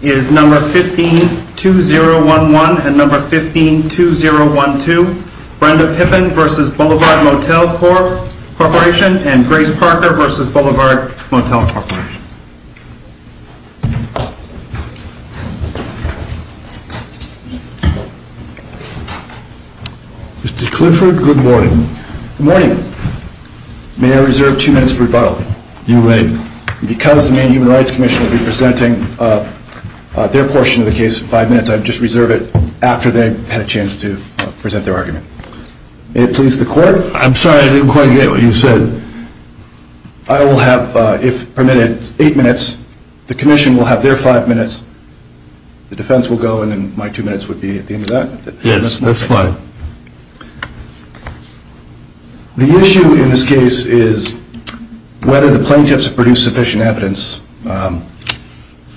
is No. 15-2011 and No. 15-2012, Brenda Pippin v. Boulevard Motel Corp., and Grace Parker v. Boulevard Motel Corp. Mr. Clifford, good morning. Good morning. May I reserve two minutes for rebuttal? You may. Because the Maine Human Rights Commission will be presenting their portion of the case in five minutes, I just reserve it after they've had a chance to present their argument. May it please the Court? I'm sorry, I didn't quite get what you said. I will have, if permitted, eight minutes. The Commission will have their five minutes, the defense will go, and then my two minutes would be at the end of that? Yes, that's fine. The issue in this case is whether the plaintiffs have produced sufficient evidence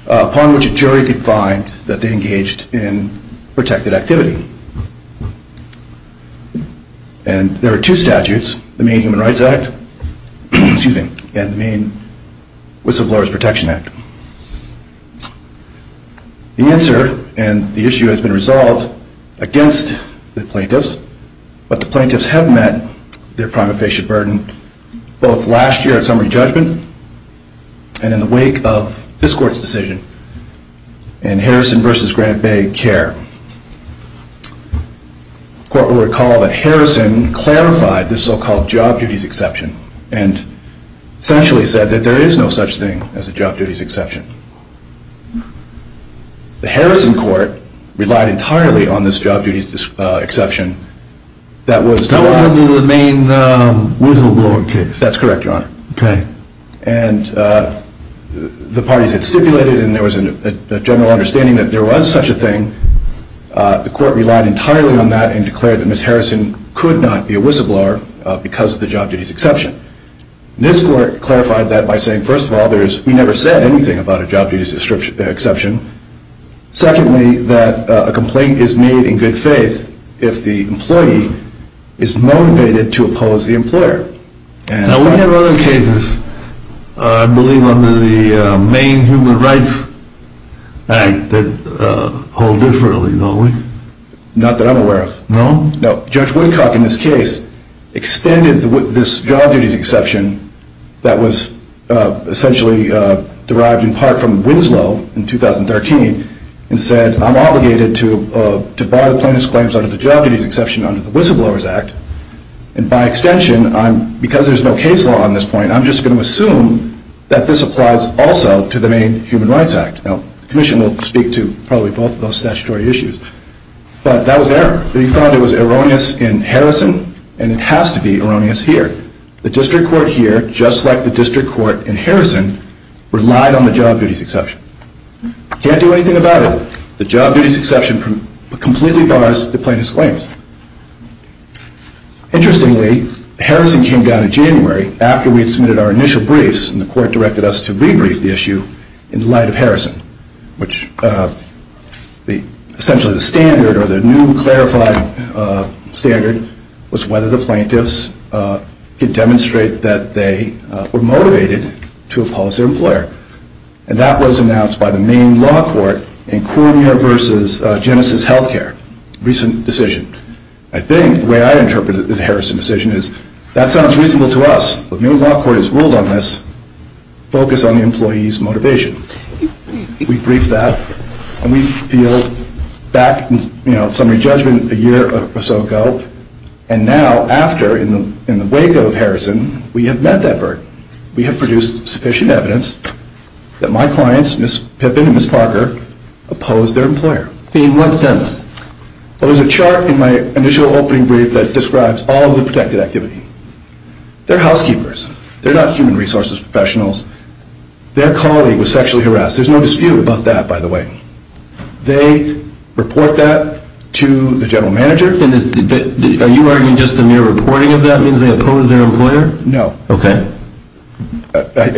upon which a jury could find that they engaged in protected activity. And there are two statutes, the Maine Human Rights Act and the Maine Whistleblowers Protection Act. The answer and the issue has been resolved against the plaintiffs, but the plaintiffs have met their prima facie burden both last year at summary judgment and in the wake of this Court's decision in Harrison v. Grant Bay care. The Court will recall that Harrison clarified this so-called job duties exception and essentially said that there is no such thing as a job duties exception. The Harrison Court relied entirely on this job duties exception that was no longer the Maine Whistleblower case. And the parties had stipulated and there was a general understanding that there was such a thing. The Court relied entirely on that and declared that Ms. Harrison could not be a whistleblower because of the job duties exception. This Court clarified that by saying, first of all, we never said anything about a job duties exception. Secondly, that a complaint is made in good faith if the employee is motivated to oppose the employer. Now we have other cases, I believe, under the Maine Human Rights Act that hold differently, don't we? Not that I'm aware of. No? No. Judge Woodcock, in this case, extended this job duties exception that was essentially derived in part from Winslow in 2013 and said, I'm obligated to bar the plaintiff's claims under the job duties exception under the Whistleblowers Act. And by extension, because there's no case law on this point, I'm just going to assume that this applies also to the Maine Human Rights Act. Now, the Commission will speak to probably both of those statutory issues. But that was error. They found it was erroneous in Harrison and it has to be erroneous here. The District Court here, just like the District Court in Harrison, relied on the job duties exception. Can't do anything about it. The job duties exception completely bars the plaintiff's claims. Interestingly, Harrison came down in January after we had submitted our initial briefs and the court directed us to rebrief the issue in light of Harrison, which essentially the standard or the new clarified standard was whether the plaintiffs could demonstrate that they were motivated to oppose their employer. And that was announced by the Maine Law Court in Cormier v. Genesis Healthcare, a recent decision. I think the way I interpreted the Harrison decision is, that sounds reasonable to us, but Maine Law Court has ruled on this. Focus on the employee's motivation. We briefed that and we feel back, you know, summary judgment a year or so ago. And now after, in the wake of Harrison, we have met that burden. We have produced sufficient evidence that my clients, Ms. Pippin and Ms. Parker, oppose their employer. In what sense? There's a chart in my initial opening brief that describes all of the protected activity. They're housekeepers. They're not human resources professionals. Their colleague was sexually harassed. There's no dispute about that, by the way. They report that to the general manager. Are you arguing just the mere reporting of that means they oppose their employer? No. Okay.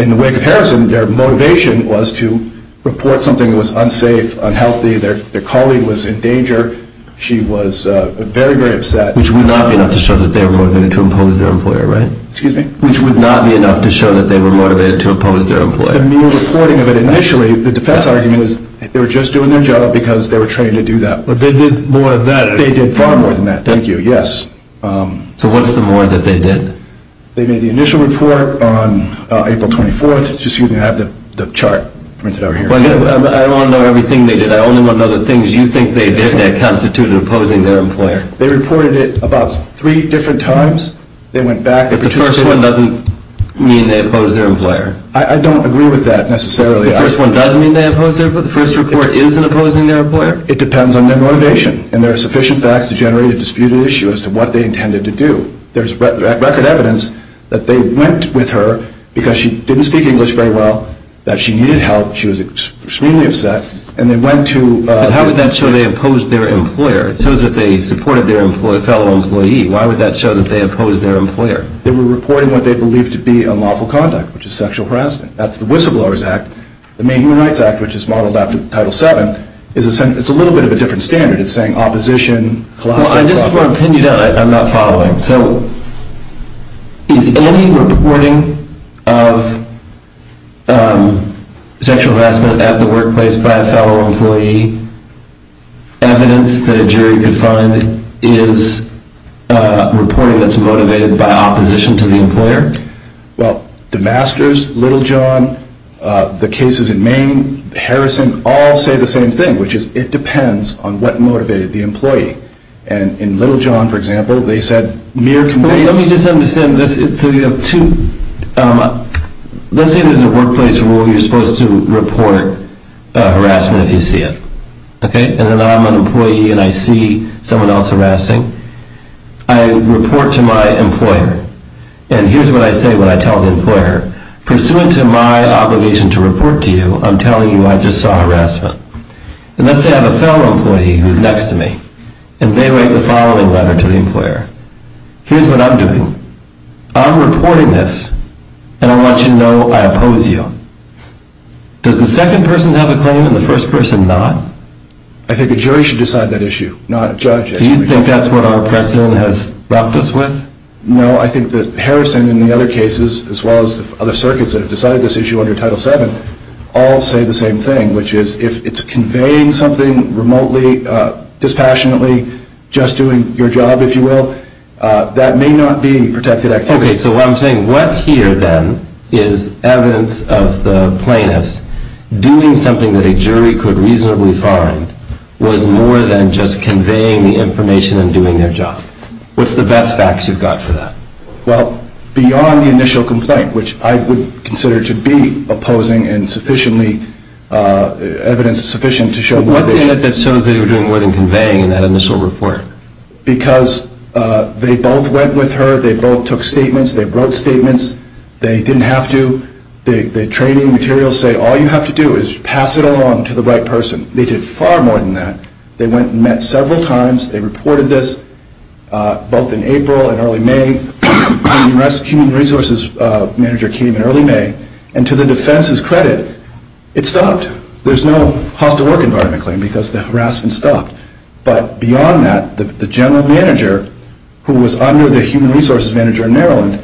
In the wake of Harrison, their motivation was to report something that was unsafe, unhealthy. Their colleague was in danger. She was very, very upset. Which would not be enough to show that they were motivated to oppose their employer, right? Excuse me? Which would not be enough to show that they were motivated to oppose their employer. The mere reporting of it initially, the defense argument is they were just doing their job because they were trained to do that. But they did more than that. They did far more than that, thank you, yes. So what's the more that they did? They made the initial report on April 24th. Excuse me, I have the chart printed over here. I want to know everything they did. I only want to know the things you think they did that constituted opposing their employer. They reported it about three different times. They went back and participated. But the first one doesn't mean they oppose their employer. I don't agree with that necessarily. The first one doesn't mean they oppose their employer? The first report isn't opposing their employer? It depends on their motivation. And there are sufficient facts to generate a disputed issue as to what they intended to do. There's record evidence that they went with her because she didn't speak English very well, that she needed help, she was extremely upset, and they went to... But how would that show they opposed their employer? It shows that they supported their fellow employee. Why would that show that they opposed their employer? They were reporting what they believed to be unlawful conduct, which is sexual harassment. That's the Whistleblowers Act. The Maine Human Rights Act, which is modeled after Title VII, is a little bit of a different standard. It's saying opposition, class... I just want to pin you down. I'm not following. So is any reporting of sexual harassment at the workplace by a fellow employee evidence that a jury could find is reporting that's motivated by opposition to the employer? Well, the Masters, Littlejohn, the cases in Maine, Harrison, all say the same thing, which is it depends on what motivated the employee. And in Littlejohn, for example, they said mere... Let me just understand this. So you have two... Let's say there's a workplace where you're supposed to report harassment if you see it. Okay? And then I'm an employee and I see someone else harassing. I report to my employer. And here's what I say when I tell the employer, pursuant to my obligation to report to you, I'm telling you I just saw harassment. And let's say I have a fellow employee who's next to me, and they write the following letter to the employer. Here's what I'm doing. I'm reporting this, and I want you to know I oppose you. Does the second person have a claim and the first person not? I think a jury should decide that issue, not a judge. Do you think that's what our precedent has left us with? No, I think that Harrison and the other cases, as well as other circuits that have decided this issue under Title VII, all say the same thing, which is if it's conveying something remotely, dispassionately, just doing your job, if you will, that may not be protected activity. Okay, so what I'm saying, what here then is evidence of the plaintiffs doing something that a jury could reasonably find was more than just conveying the information and doing their job? What's the best facts you've got for that? Well, beyond the initial complaint, which I would consider to be opposing, and evidence is sufficient to show more than that. What's in it that shows they were doing more than conveying in that initial report? Because they both went with her, they both took statements, they wrote statements, they didn't have to, the training materials say all you have to do is pass it along to the right person. They did far more than that. They went and met several times, they reported this, both in April and early May. The human resources manager came in early May, and to the defense's credit, it stopped. There's no hostile work environment claim because the harassment stopped. But beyond that, the general manager, who was under the human resources manager in Maryland,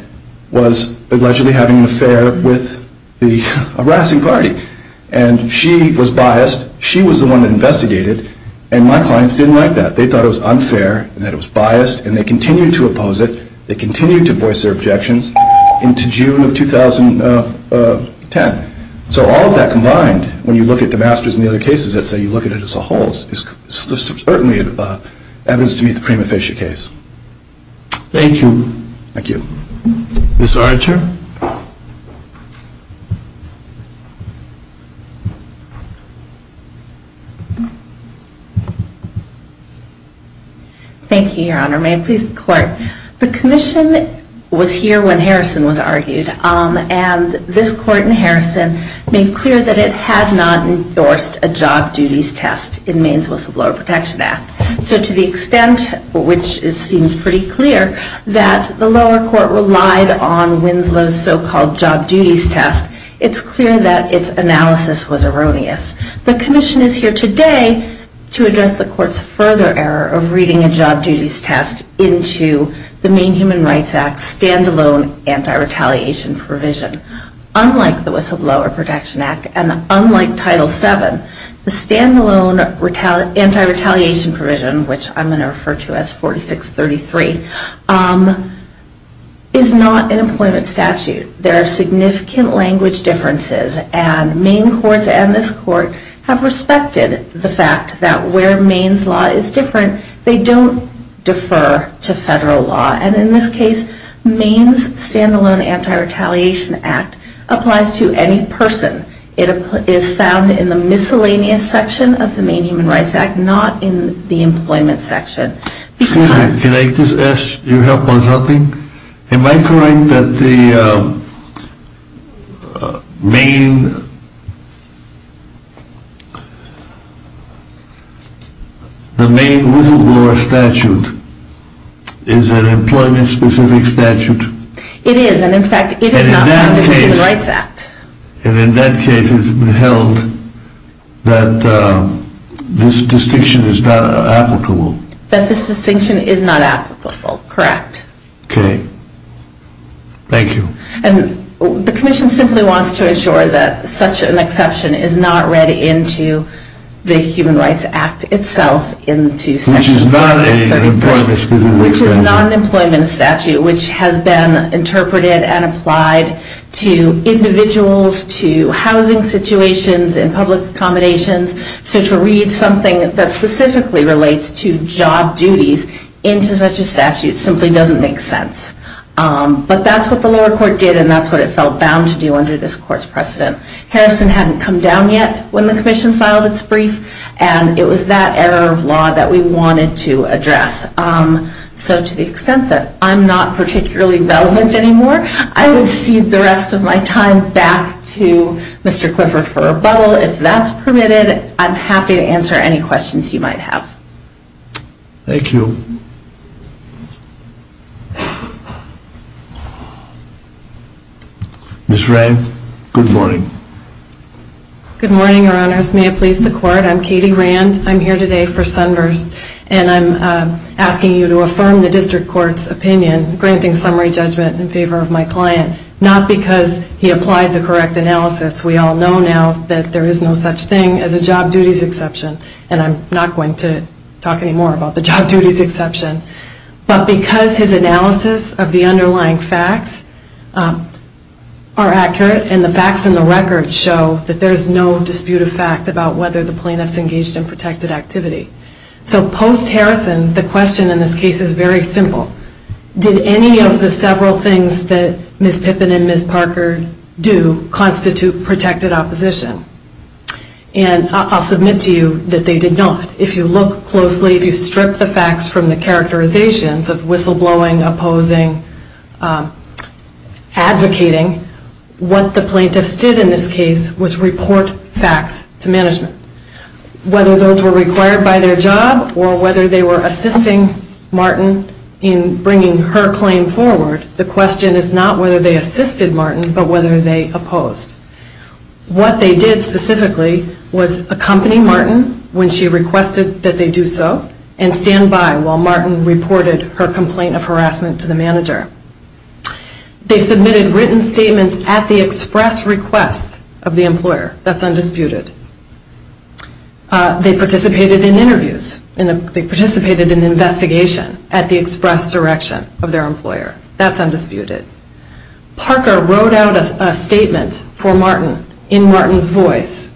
was allegedly having an affair with the harassing party. And she was biased. She was the one that investigated, and my clients didn't like that. They thought it was unfair and that it was biased, and they continued to oppose it. They continued to voice their objections into June of 2010. So all of that combined, when you look at the masters and the other cases, let's say you look at it as a whole, is certainly evidence to meet the prima facie case. Thank you. Thank you. Ms. Archer. Thank you, Your Honor. May it please the Court. The commission was here when Harrison was argued, and this Court in Harrison made clear that it had not endorsed a job duties test in Maine's whistleblower protection act. So to the extent, which seems pretty clear, that the lower court relied on Winslow's so-called job duties test, it's clear that its analysis was erroneous. The commission is here today to address the court's further error of reading a job duties test into the Maine Human Rights Act's standalone anti-retaliation provision. Unlike the whistleblower protection act, and unlike Title VII, the standalone anti-retaliation provision, which I'm going to refer to as 4633, is not an employment statute. There are significant language differences, and Maine courts and this court have respected the fact that where Maine's law is different, they don't defer to federal law. And in this case, Maine's standalone anti-retaliation act applies to any person. It is found in the miscellaneous section of the Maine Human Rights Act, not in the employment section. Excuse me, can I just ask your help on something? Am I correct that the Maine whistleblower statute is an employment-specific statute? It is, and in fact, it is not found in the Maine Human Rights Act. And in that case, it's been held that this distinction is not applicable. That this distinction is not applicable, correct. Okay. Thank you. And the commission simply wants to ensure that such an exception is not read into the Human Rights Act itself, into section 4633, which is not an employment statute, which has been interpreted and applied to individuals, to housing situations, and public accommodations. So to read something that specifically relates to job duties into such a statute simply doesn't make sense. But that's what the lower court did, and that's what it felt bound to do under this court's precedent. Harrison hadn't come down yet when the commission filed its brief, and it was that error of law that we wanted to address. So to the extent that I'm not particularly relevant anymore, I will cede the rest of my time back to Mr. Clifford for rebuttal. If that's permitted, I'm happy to answer any questions you might have. Thank you. Ms. Rand, good morning. Good morning, your honors. May it please the court. I'm Katie Rand. I'm here today for Sunverse, and I'm asking you to affirm the district court's opinion, granting summary judgment in favor of my client, not because he applied the correct analysis. We all know now that there is no such thing as a job duties exception, and I'm not going to talk anymore about the job duties exception, but because his analysis of the underlying facts are accurate, and the facts in the record show that there's no disputed fact about whether the plaintiff's engaged in protected activity. So post-Harrison, the question in this case is very simple. Did any of the several things that Ms. Pippin and Ms. Parker do constitute protected opposition? And I'll submit to you that they did not. If you look closely, if you strip the facts from the characterizations of whistleblowing, opposing, advocating, what the plaintiffs did in this case was report facts to management. Whether those were required by their job, or whether they were assisting Martin in bringing her claim forward, the question is not whether they assisted Martin, but whether they opposed. What they did specifically was accompany Martin when she requested that they do so, and stand by while Martin reported her complaint of harassment to the manager. They submitted written statements at the express request of the employer. That's undisputed. They participated in interviews. They participated in investigation at the express direction of their employer. That's undisputed. Parker wrote out a statement for Martin in Martin's voice,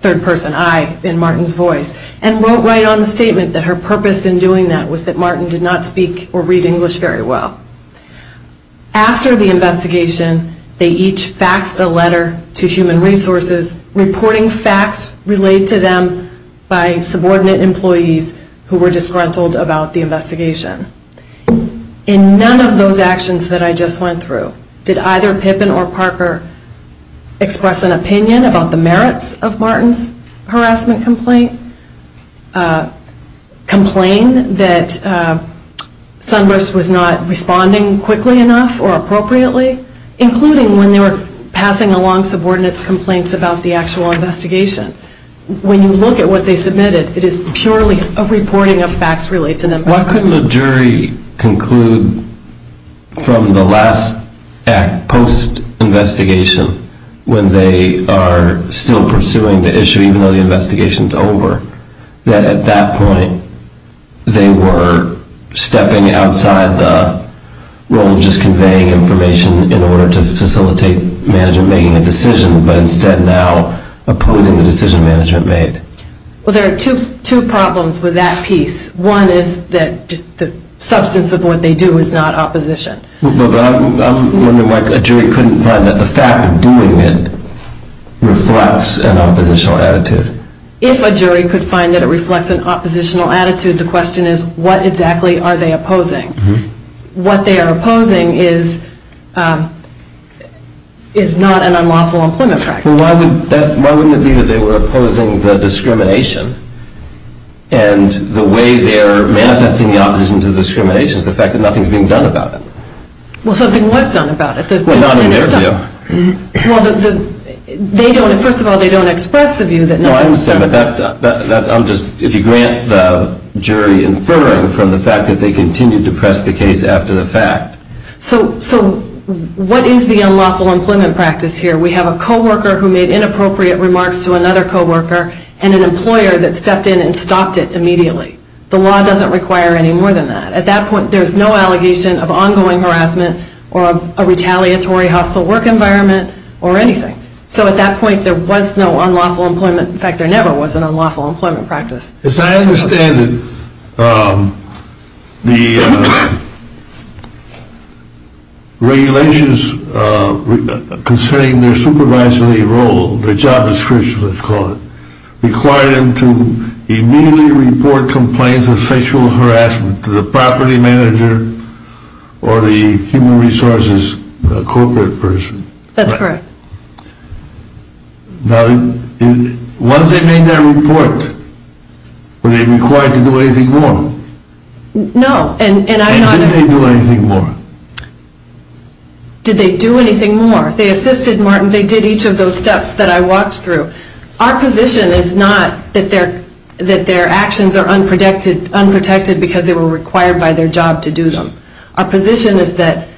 third person, I, in Martin's voice, and wrote right on the statement that her purpose in doing that was that Martin did not speak or read English very well. After the investigation, they each faxed a letter to human resources, reporting facts relayed to them by subordinate employees who were disgruntled about the investigation. In none of those actions that I just went through, did either Pippin or Parker express an opinion about the merits of Martin's harassment complaint, complain that Sunburst was not responding quickly enough or appropriately, including when they were passing along subordinate's complaints about the actual investigation. When you look at what they submitted, it is purely a reporting of facts relayed to them. Why couldn't a jury conclude from the last act, post-investigation, when they are still pursuing the issue even though the investigation is over, that at that point they were stepping outside the role of just conveying information in order to facilitate management making a decision, but instead now opposing the decision management made? Well, there are two problems with that piece. One is that the substance of what they do is not opposition. But I'm wondering why a jury couldn't find that the fact of doing it reflects an oppositional attitude. If a jury could find that it reflects an oppositional attitude, the question is what exactly are they opposing? What they are opposing is not an unlawful employment practice. Well, why wouldn't it be that they were opposing the discrimination? And the way they are manifesting the opposition to discrimination is the fact that nothing is being done about it. Well, something was done about it. Well, not in their view. Well, first of all, they don't express the view that nothing is being done about it. No, I understand. But if you grant the jury inferring from the fact that they continued to press the case after the fact. So what is the unlawful employment practice here? We have a co-worker who made inappropriate remarks to another co-worker and an employer that stepped in and stopped it immediately. The law doesn't require any more than that. At that point, there's no allegation of ongoing harassment or a retaliatory hostile work environment or anything. So at that point, there was no unlawful employment. In fact, there never was an unlawful employment practice. As I understand it, the regulations concerning their supervisory role, their job description, let's call it, required them to immediately report complaints of sexual harassment to the property manager or the human resources corporate person. That's correct. Now, once they made their report, were they required to do anything more? No. And did they do anything more? Did they do anything more? They assisted Martin. They did each of those steps that I walked through. Our position is not that their actions are unprotected because they were required by their job to do them. Our position is that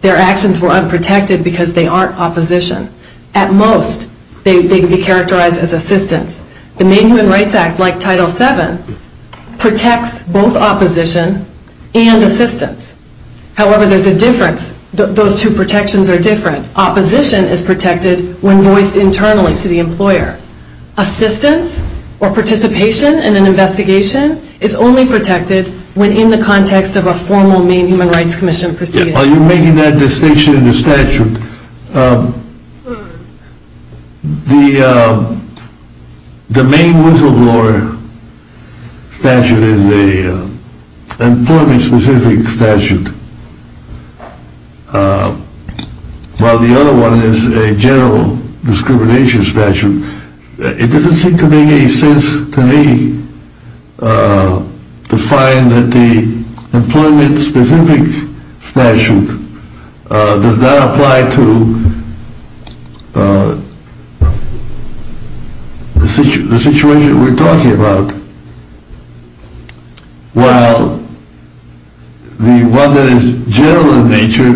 their actions were unprotected because they aren't opposition. At most, they would be characterized as assistance. The Maine Human Rights Act, like Title VII, protects both opposition and assistance. However, there's a difference. Those two protections are different. Opposition is protected when voiced internally to the employer. Assistance or participation in an investigation is only protected when in the context of a formal Maine Human Rights Commission proceeding. While you're making that distinction in the statute, the Maine whistleblower statute is an employment-specific statute, while the other one is a general discrimination statute. It doesn't seem to make any sense to me to find that the employment-specific statute does not apply to the situation that we're talking about. While the one that is general in nature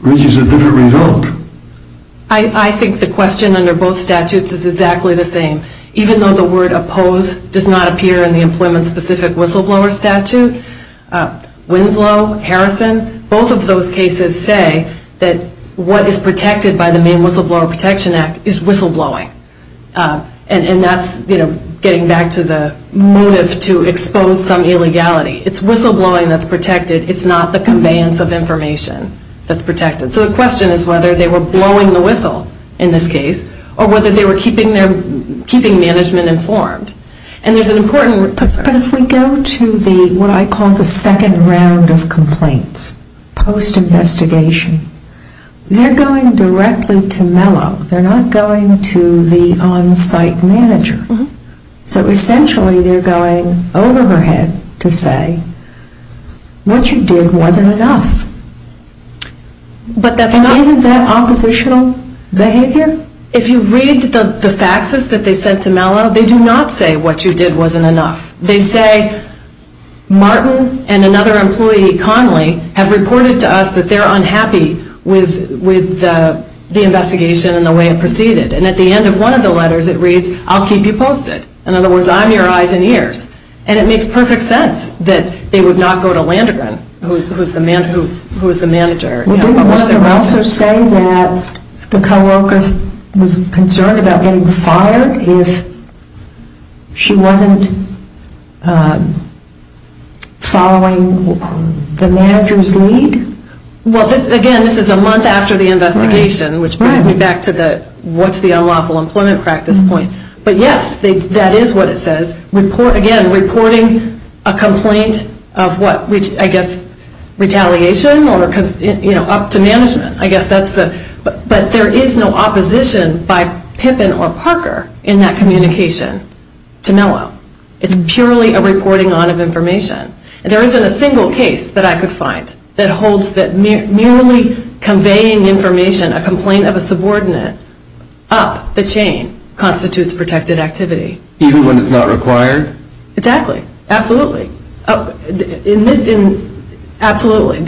reaches a different result. I think the question under both statutes is exactly the same. Even though the word opposed does not appear in the employment-specific whistleblower statute, Winslow, Harrison, both of those cases say that what is protected by the Maine Whistleblower Protection Act is whistleblowing. And that's getting back to the motive to expose some illegality. It's whistleblowing that's protected. It's not the conveyance of information that's protected. So the question is whether they were blowing the whistle in this case, or whether they were keeping management informed. And there's an important... But if we go to what I call the second round of complaints, post-investigation, they're going directly to Mello. They're not going to the on-site manager. So essentially they're going over her head to say, what you did wasn't enough. But that's not... Isn't that oppositional behavior? If you read the faxes that they sent to Mello, they do not say what you did wasn't enough. They say, Martin and another employee, Conley, have reported to us that they're unhappy with the investigation and the way it proceeded. And at the end of one of the letters it reads, I'll keep you posted. In other words, I'm your eyes and ears. And it makes perfect sense that they would not go to Landergren, who is the manager. Didn't the letter also say that the co-worker was concerned about getting fired if she wasn't following the manager's lead? Well, again, this is a month after the investigation, which brings me back to the what's the unlawful employment practice point. But yes, that is what it says. Again, reporting a complaint of what, I guess, retaliation? Or up to management, I guess that's the... But there is no opposition by Pippin or Parker in that communication to Mello. It's purely a reporting on of information. And there isn't a single case that I could find that holds that merely conveying information, a complaint of a subordinate, up the chain, constitutes protected activity. Even when it's not required? Exactly. Absolutely. I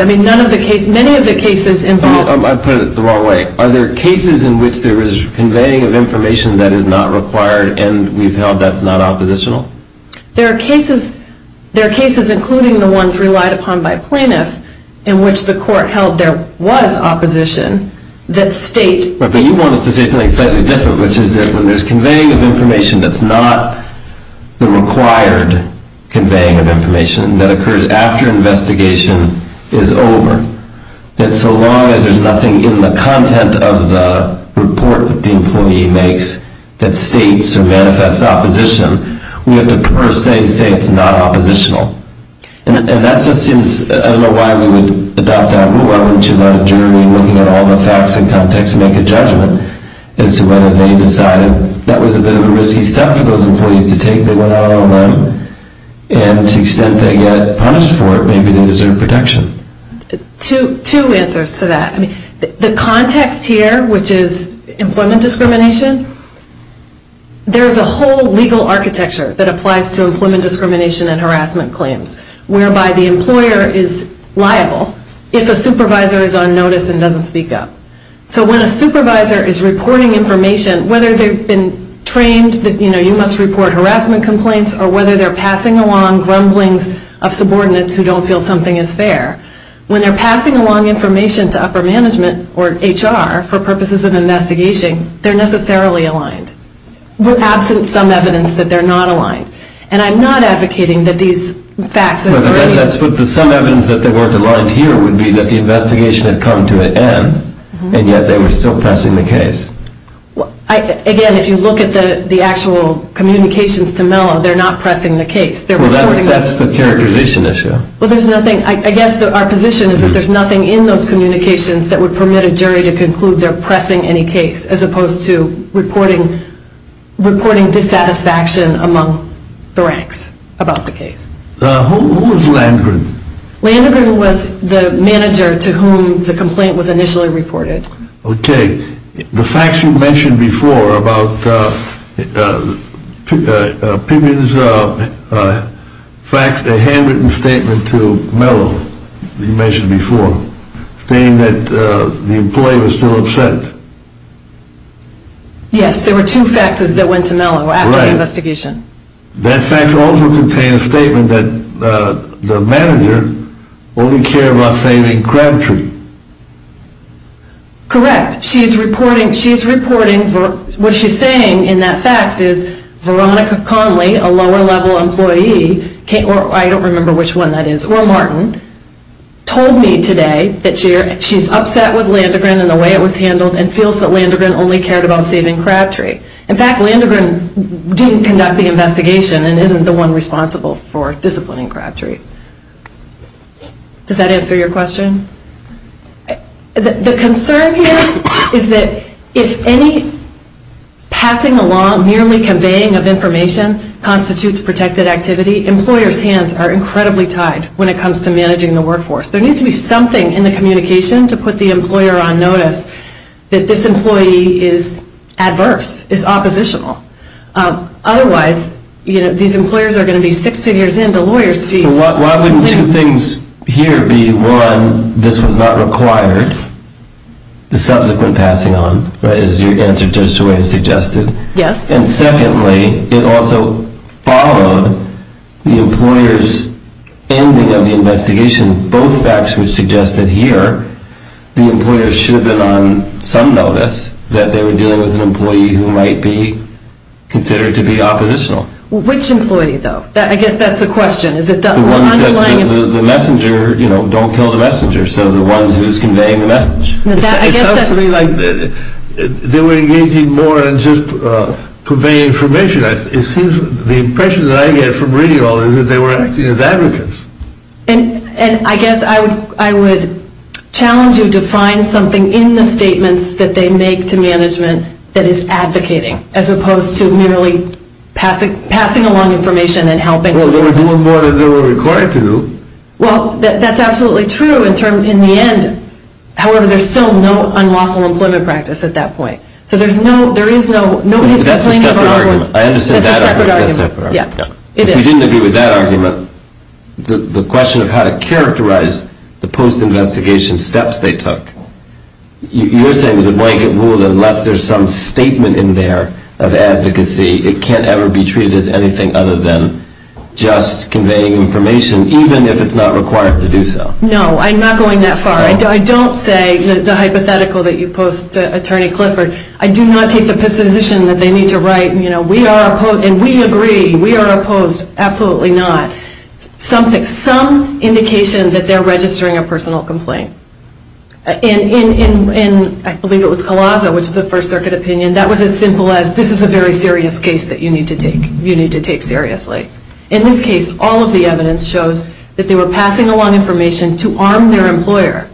mean, none of the cases, many of the cases involve... I put it the wrong way. Are there cases in which there is conveying of information that is not required and we've held that's not oppositional? There are cases, including the ones relied upon by plaintiff, in which the court held there was opposition, that state... But you want us to say something slightly different, which is that when there's conveying of information that's not the required conveying of information that occurs after investigation is over, that so long as there's nothing in the content of the report that the employee makes that states or manifests opposition, we have to per se say it's not oppositional. And that just seems... I don't know why we would adopt that rule. Why wouldn't you let a jury, looking at all the facts and context, make a judgment as to whether they decided that was a bit of a risky step for those employees to take that went out on them, and to the extent they get punished for it, maybe they deserve protection? Two answers to that. The context here, which is employment discrimination, there's a whole legal architecture that applies to employment discrimination and harassment claims, whereby the employer is liable if a supervisor is on notice and doesn't speak up. So when a supervisor is reporting information, whether they've been trained that you must report harassment complaints, or whether they're passing along grumblings of subordinates who don't feel something is fair, when they're passing along information to upper management or HR for purposes of investigation, they're necessarily aligned, absent some evidence that they're not aligned. And I'm not advocating that these facts... Some evidence that they weren't aligned here would be that the investigation had come to an end, and yet they were still pressing the case. Again, if you look at the actual communications to Mello, they're not pressing the case. That's the characterization issue. I guess our position is that there's nothing in those communications that would permit a jury to conclude they're pressing any case, as opposed to reporting dissatisfaction among the ranks about the case. Who was Landgren? Landgren was the manager to whom the complaint was initially reported. Okay. The facts you mentioned before about Pimmons faxed a handwritten statement to Mello, you mentioned before, stating that the employee was still upset. Yes, there were two faxes that went to Mello after the investigation. That fax also contained a statement that the manager only cared about saving Crabtree. Correct. She's reporting... What she's saying in that fax is Veronica Conley, a lower-level employee, I don't remember which one that is, or Martin, told me today that she's upset with Landgren and the way it was handled and feels that Landgren only cared about saving Crabtree. In fact, Landgren didn't conduct the investigation and isn't the one responsible for disciplining Crabtree. Does that answer your question? The concern here is that if any passing along, merely conveying of information, constitutes protected activity, employers' hands are incredibly tied when it comes to managing the workforce. There needs to be something in the communication to put the employer on notice that this employee is adverse, is oppositional. Otherwise, these employers are going to be six figures into lawyers' fees. Why wouldn't two things here be, one, this was not required, the subsequent passing on, as your answer just the way you suggested. Yes. And secondly, it also followed the employer's ending of the investigation. Both facts would suggest that here the employer should have been on some notice that they were dealing with an employee who might be considered to be oppositional. Which employee, though? I guess that's the question. The ones that the messenger, you know, don't kill the messenger, so the ones who's conveying the message. It sounds to me like they were engaging more in just conveying information. It seems the impression that I get from reading all this is that they were acting as advocates. And I guess I would challenge you to find something in the statements that they make to management that is advocating, as opposed to merely passing along information and helping somebody else. Well, they were doing more than they were required to. Well, that's absolutely true in the end. However, there's still no unlawful employment practice at that point. So there is no, nobody is complaining about it. I understand that argument. That's a separate argument. If you didn't agree with that argument, the question of how to characterize the post-investigation steps they took, you're saying it was a blanket rule that unless there's some statement in there of advocacy, it can't ever be treated as anything other than just conveying information, even if it's not required to do so. No, I'm not going that far. I don't say the hypothetical that you posed to Attorney Clifford. I do not take the position that they need to write, you know, and we agree, we are opposed, absolutely not, some indication that they're registering a personal complaint. In, I believe it was Collazo, which is a First Circuit opinion, that was as simple as this is a very serious case that you need to take. You need to take seriously. In this case, all of the evidence shows that they were passing along information to arm their employer,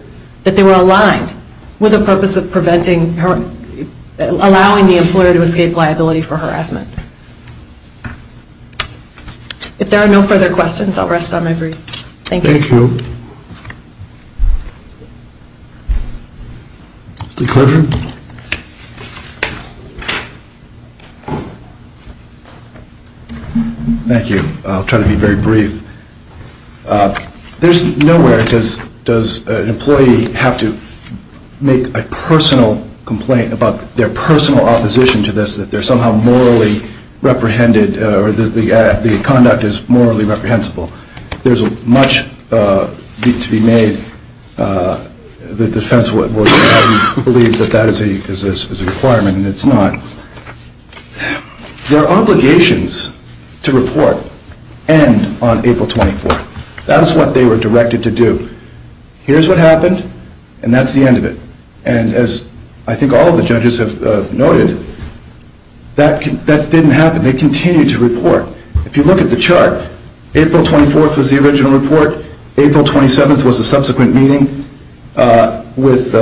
that they were aligned with a purpose of preventing, allowing the employer to escape liability for harassment. If there are no further questions, I'll rest on my brief. Thank you. Thank you. Mr. Clifford. Thank you. I'll try to be very brief. There's nowhere does an employee have to make a personal complaint about their personal opposition to this, that they're somehow morally reprehended, or that the conduct is morally reprehensible. There's much to be made that the defense would believe that that is a requirement, and it's not. Their obligations to report end on April 24th. That is what they were directed to do. Here's what happened, and that's the end of it. And as I think all of the judges have noted, that didn't happen. They continued to report. If you look at the chart, April 24th was the original report. April 27th was a subsequent meeting with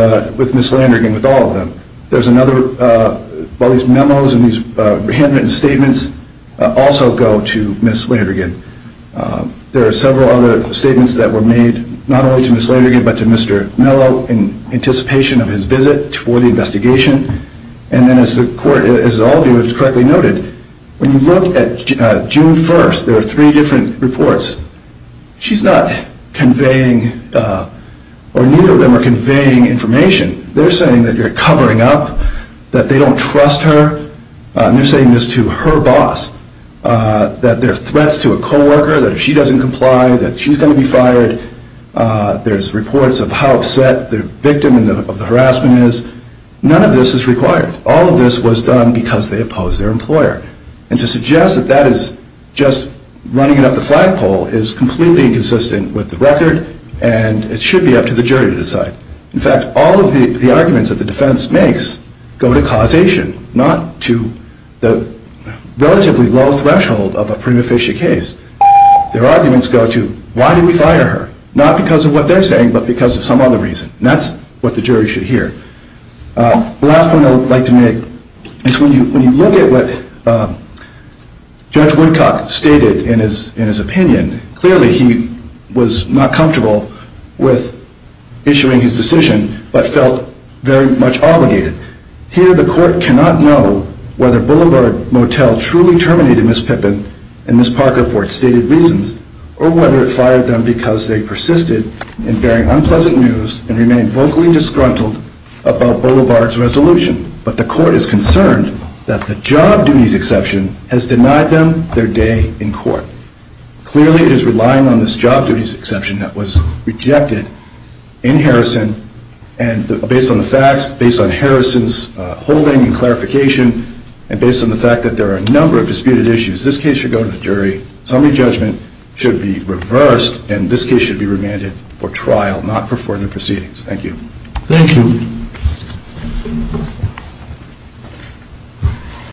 Ms. Landrigan, with all of them. There's another, all these memos and these handwritten statements also go to Ms. Landrigan. There are several other statements that were made, not only to Ms. Landrigan, but to Mr. Mello in anticipation of his visit for the investigation. And then as all of you have correctly noted, when you look at June 1st, there are three different reports. She's not conveying, or neither of them are conveying information. They're saying that you're covering up, that they don't trust her, and they're saying this to her boss, that there are threats to a co-worker, that if she doesn't comply, that she's going to be fired. There's reports of how upset the victim of the harassment is. None of this is required. All of this was done because they opposed their employer. And to suggest that that is just running it up the flagpole is completely inconsistent with the record, and it should be up to the jury to decide. In fact, all of the arguments that the defense makes go to causation, not to the relatively low threshold of a prima facie case. Their arguments go to, why did we fire her? Not because of what they're saying, but because of some other reason. And that's what the jury should hear. The last point I'd like to make is when you look at what Judge Woodcock stated in his opinion, clearly he was not comfortable with issuing his decision, but felt very much obligated. Here the court cannot know whether Boulevard Motel truly terminated Ms. Pippin and Ms. Parker for its stated reasons, or whether it fired them because they persisted in bearing unpleasant news and remained vocally disgruntled about Boulevard's resolution. But the court is concerned that the job duties exception has denied them their day in court. Clearly it is relying on this job duties exception that was rejected in Harrison, and based on the facts, based on Harrison's holding and clarification, and based on the fact that there are a number of disputed issues, this case should go to the jury, summary judgment should be reversed, and this case should be remanded for trial, not for further proceedings. Thank you. Thank you.